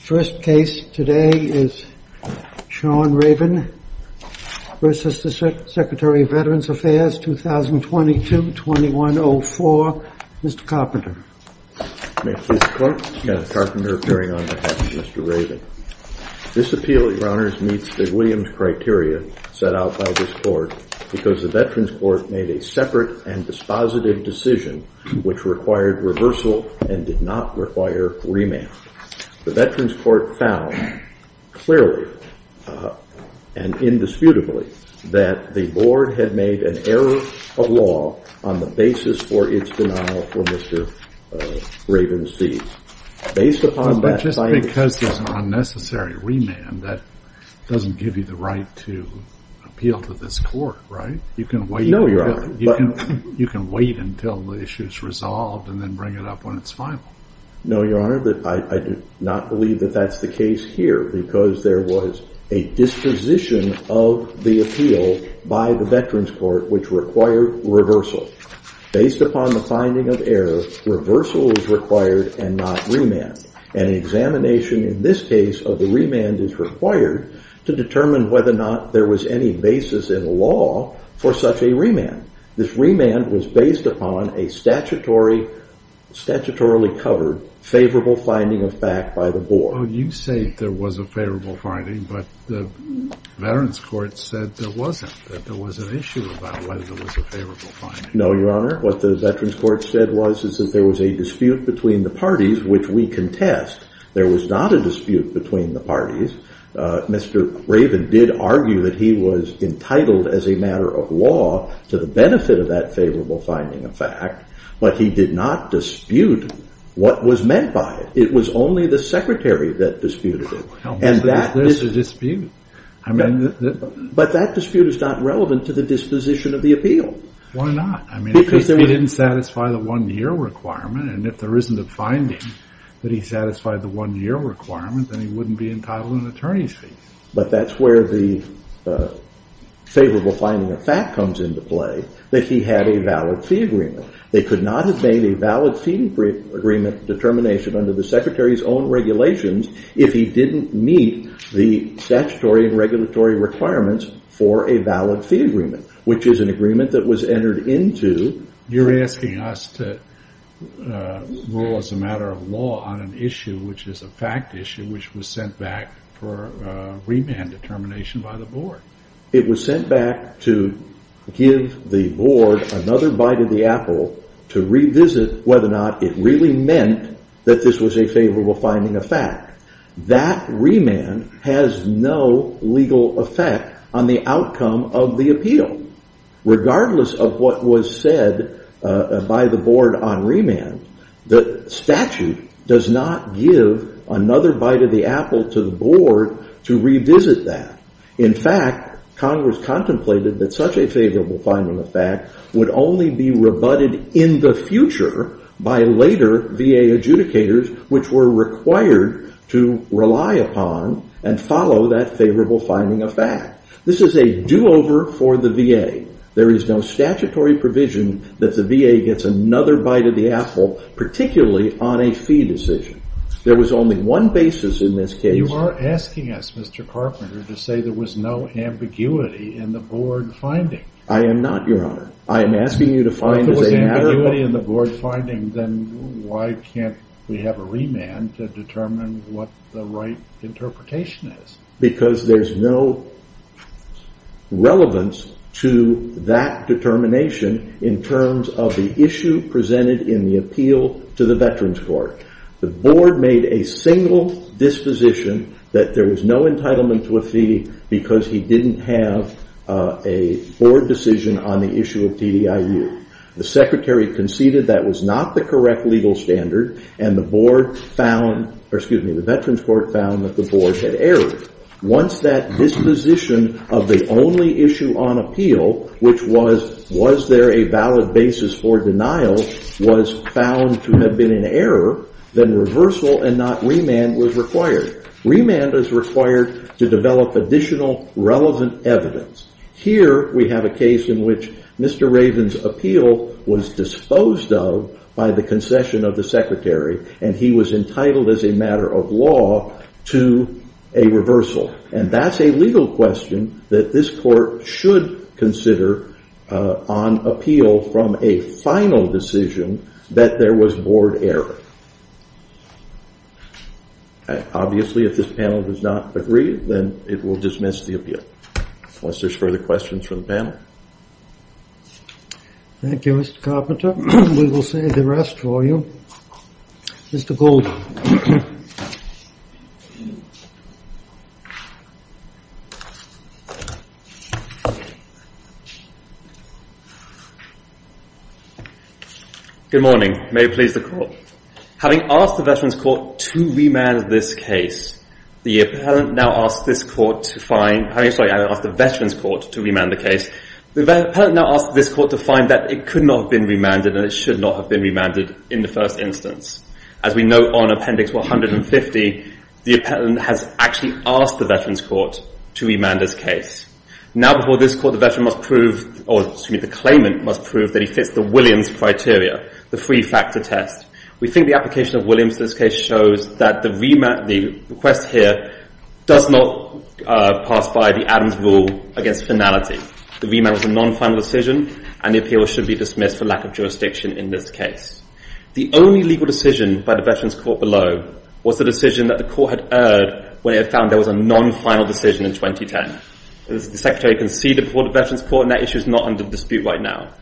First case today is Sean Ravin v. Secretary of Veterans Affairs, 2022-2104. Mr. Carpenter. May I please report? Yes. Carpenter, carrying on behalf of Mr. Ravin. This appeal, your honors, meets the Williams criteria set out by this court because the Veterans Court made a separate and dispositive decision which required reversal and did not found clearly and indisputably that the board had made an error of law on the basis for its denial for Mr. Ravin's fees. Based upon that, just because there's an unnecessary remand that doesn't give you the right to appeal to this court, right? You can wait until the issue is No, your honor, but I do not believe that that's the case here because there was a disposition of the appeal by the Veterans Court which required reversal. Based upon the finding of error, reversal is required and not remand. An examination in this case of the remand is required to determine whether or not there was any basis in law for such a remand. This remand was based upon a statutorily covered favorable finding of fact by the board. You say there was a favorable finding, but the Veterans Court said there wasn't, that there was an issue about whether there was a favorable finding. No, your honor, what the Veterans Court said was that there was a dispute between the parties which we contest. There was not a dispute between the parties. Mr. Ravin did argue that he was entitled as a matter of law to the benefit of that favorable finding of fact, but he did not dispute what was meant by it. It was only the secretary that disputed it. There's a dispute. But that dispute is not relevant to the disposition of the appeal. Why not? I mean, because he didn't satisfy the one-year requirement and if there isn't a finding that he satisfied the one-year requirement, then he wouldn't be entitled to an attorney's fee. But that's where the favorable finding of fact comes into play, that he had a valid fee agreement. They could not have made a valid fee agreement determination under the secretary's own regulations if he didn't meet the statutory and regulatory requirements for a valid fee agreement, which is an agreement that was entered into. You're asking us to rule as a matter of law on an fact issue which was sent back for remand determination by the board. It was sent back to give the board another bite of the apple to revisit whether or not it really meant that this was a favorable finding of fact. That remand has no legal effect on the outcome of the appeal. Regardless of what was said by the board on remand, the statute does not give another bite of the apple to the board to revisit that. In fact, Congress contemplated that such a favorable finding of fact would only be rebutted in the future by later VA adjudicators which were required to rely upon and follow that favorable finding of fact. This is a do-over for the VA. There is no statutory provision that the VA gets another bite of the apple, particularly on a fee decision. There was only one basis in this case. You are asking us, Mr. Carpenter, to say there was no ambiguity in the board finding. I am not, Your Honor. I am asking you to find as a matter of law. Then why can't we have a remand to determine what the right interpretation is? Because there is no relevance to that determination in terms of the issue presented in the appeal to the Veterans Court. The board made a single disposition that there was no entitlement to a fee because he did not have a board decision on the issue of TDIU. The Secretary conceded that was not the correct legal standard. The Veterans Court found that the board had errored. Once that disposition of the only issue on appeal, which was, was there a valid basis for denial, was found to have been an error, then reversal and not remand was required. Remand is required to develop additional relevant evidence. Here we have a case in which Mr. Raven's appeal was disposed of by the concession of the Secretary and he was entitled as a matter of law to a reversal. That is a legal question that this court should consider on appeal from a final decision that there was board error. Obviously, if this panel does not agree, then it will dismiss the appeal. Unless there's further questions from the panel. Thank you, Mr. Carpenter. We will save the rest for you. Mr. Gold. Good morning. May it please the court. Having asked the Veterans Court to remand this case, the appellant now asked this court to find, sorry, I asked the Veterans Court to remand the case. The appellant now asked this court to find that it could not have been remanded and it should not have been remanded in the first instance. As we know on appendix 150, the appellant has actually asked the Veterans Court to remand this case. Now before this court, the claimant must prove that he fits the Williams criteria, the three-factor test. We think the application of Williams in this case shows that the request here does not pass by the Adams rule against finality. The remand was a non-final decision and the appeal should be dismissed for lack of jurisdiction in this case. The only legal decision by the Veterans Court below was the decision that the court had erred when it found there was a non-final decision in 2010. The secretary conceded before the Veterans Court and that issue is not under dispute right now.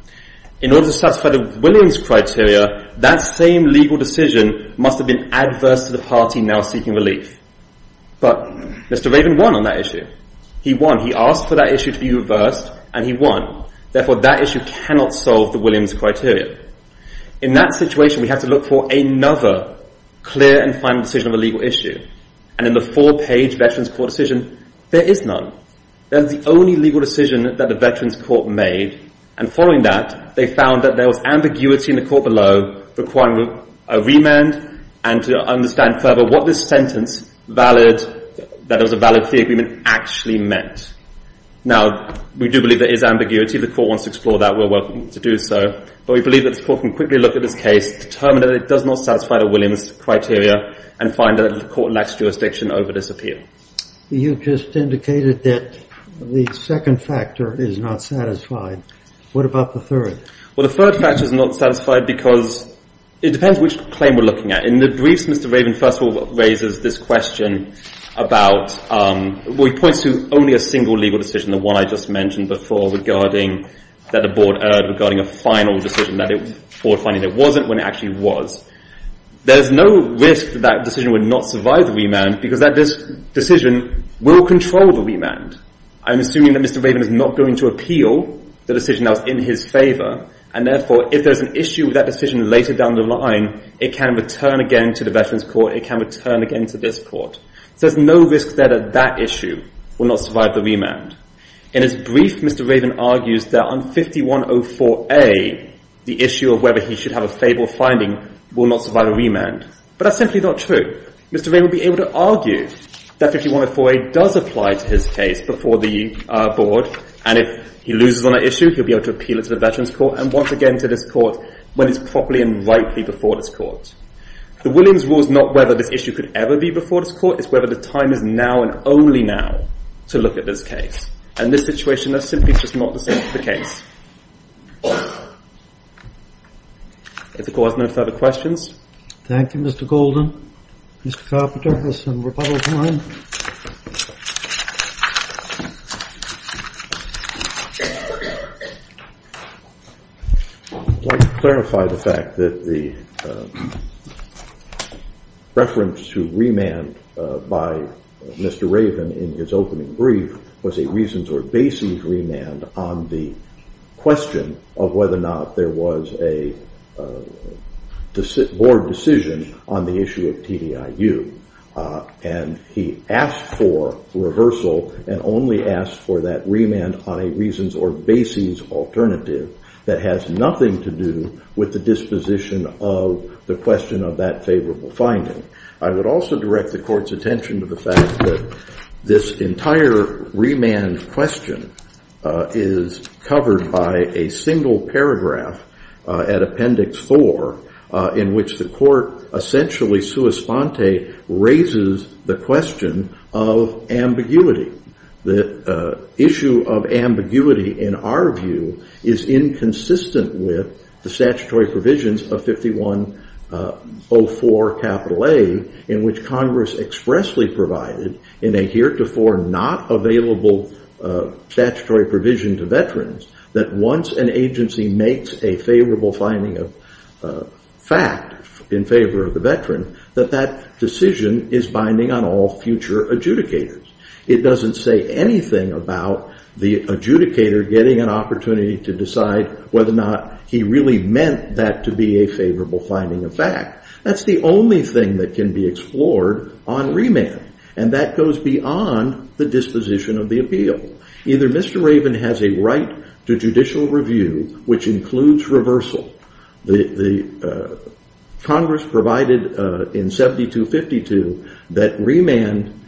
In order to satisfy the Williams criteria, that same legal decision must have been adverse to the party now seeking relief. But Mr. Raven won on that issue. He won. He asked for that issue to be reversed and he won. Therefore, that issue cannot solve the Williams criteria. In that situation, we have to look for another clear and final decision of a legal issue. And in the four-page Veterans Court decision, there is none. That is the only legal decision that the Veterans Court made. And following that, they found that there was ambiguity in the court below requiring a remand and to understand further what this sentence valid, that it was a valid fee agreement, actually meant. Now we do believe there is ambiguity. If the court wants to explore that, we're welcome to do so. But we believe that the court can quickly look at this case, determine that it does not satisfy the Williams criteria, and find that the court lacks jurisdiction over this appeal. You just indicated that the second factor is not satisfied. What about the third? Well, the third factor is not satisfied because it depends which claim we're looking at. In the briefs, Mr. Raven first of all raises this question about, well, he points to only a single legal decision, the one I just mentioned before, regarding that the board erred, regarding a final decision that it wasn't when it actually was. There's no risk that that decision would not survive the remand because that decision will control the remand. I'm assuming that Mr. Raven is not going to appeal the decision that was in his favor. And therefore, if there's an issue with that decision later down the line, it can return again to the Veterans Court. It can return again to this court. So there's no risk there that that issue will not survive the remand. In his brief, Mr. Raven argues that on 5104A, the issue of whether he should have a favorable finding will not survive a remand. But that's simply not true. Mr. Raven will be able to argue that 5104A does apply to his case before the board. And if he loses on that issue, he'll be able to appeal it to the Veterans Court and once again to this court when it's properly and rightly before this court. The Williams rule is not whether this issue could ever be before this court. It's whether the time is now and only now to look at this case. And this situation is simply just not the same as the case. If the court has no further questions. Thank you, Mr. Golden. Mr. Carpenter has some questions. Reference to remand by Mr. Raven in his opening brief was a reasons or basis remand on the question of whether or not there was a board decision on the issue of TDIU. And he asked for reversal and only asked for that remand on a reasons or basis alternative that has nothing to do with the disposition of the question of that favorable finding. I would also direct the court's attention to the fact that this entire remand question is covered by a single paragraph at Appendix IV in which the court essentially sui sponte raises the question of ambiguity. The issue of ambiguity in our view is inconsistent with the statutory provisions of 5104 A in which Congress expressly provided in a heretofore not available statutory provision to veterans that once an agency makes a favorable finding of in favor of the veteran that that decision is binding on all future adjudicators. It doesn't say anything about the adjudicator getting an opportunity to decide whether or not he really meant that to be a favorable finding of fact. That's the only thing that can be explored on remand. And that goes beyond the disposition of the appeal. Either Mr. Raven has a right to Congress provided in 7252 that remand,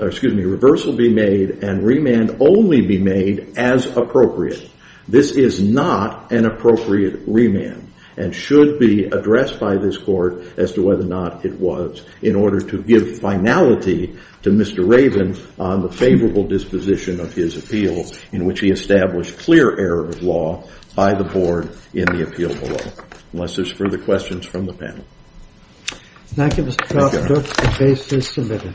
excuse me, reversal be made and remand only be made as appropriate. This is not an appropriate remand and should be addressed by this court as to whether or not it was in order to give finality to Mr. Raven on the favorable disposition of his appeal in which he established clear error of law by the board in the appeal below. Unless there's further questions from the panel. Thank you Mr. Trost. The case is submitted.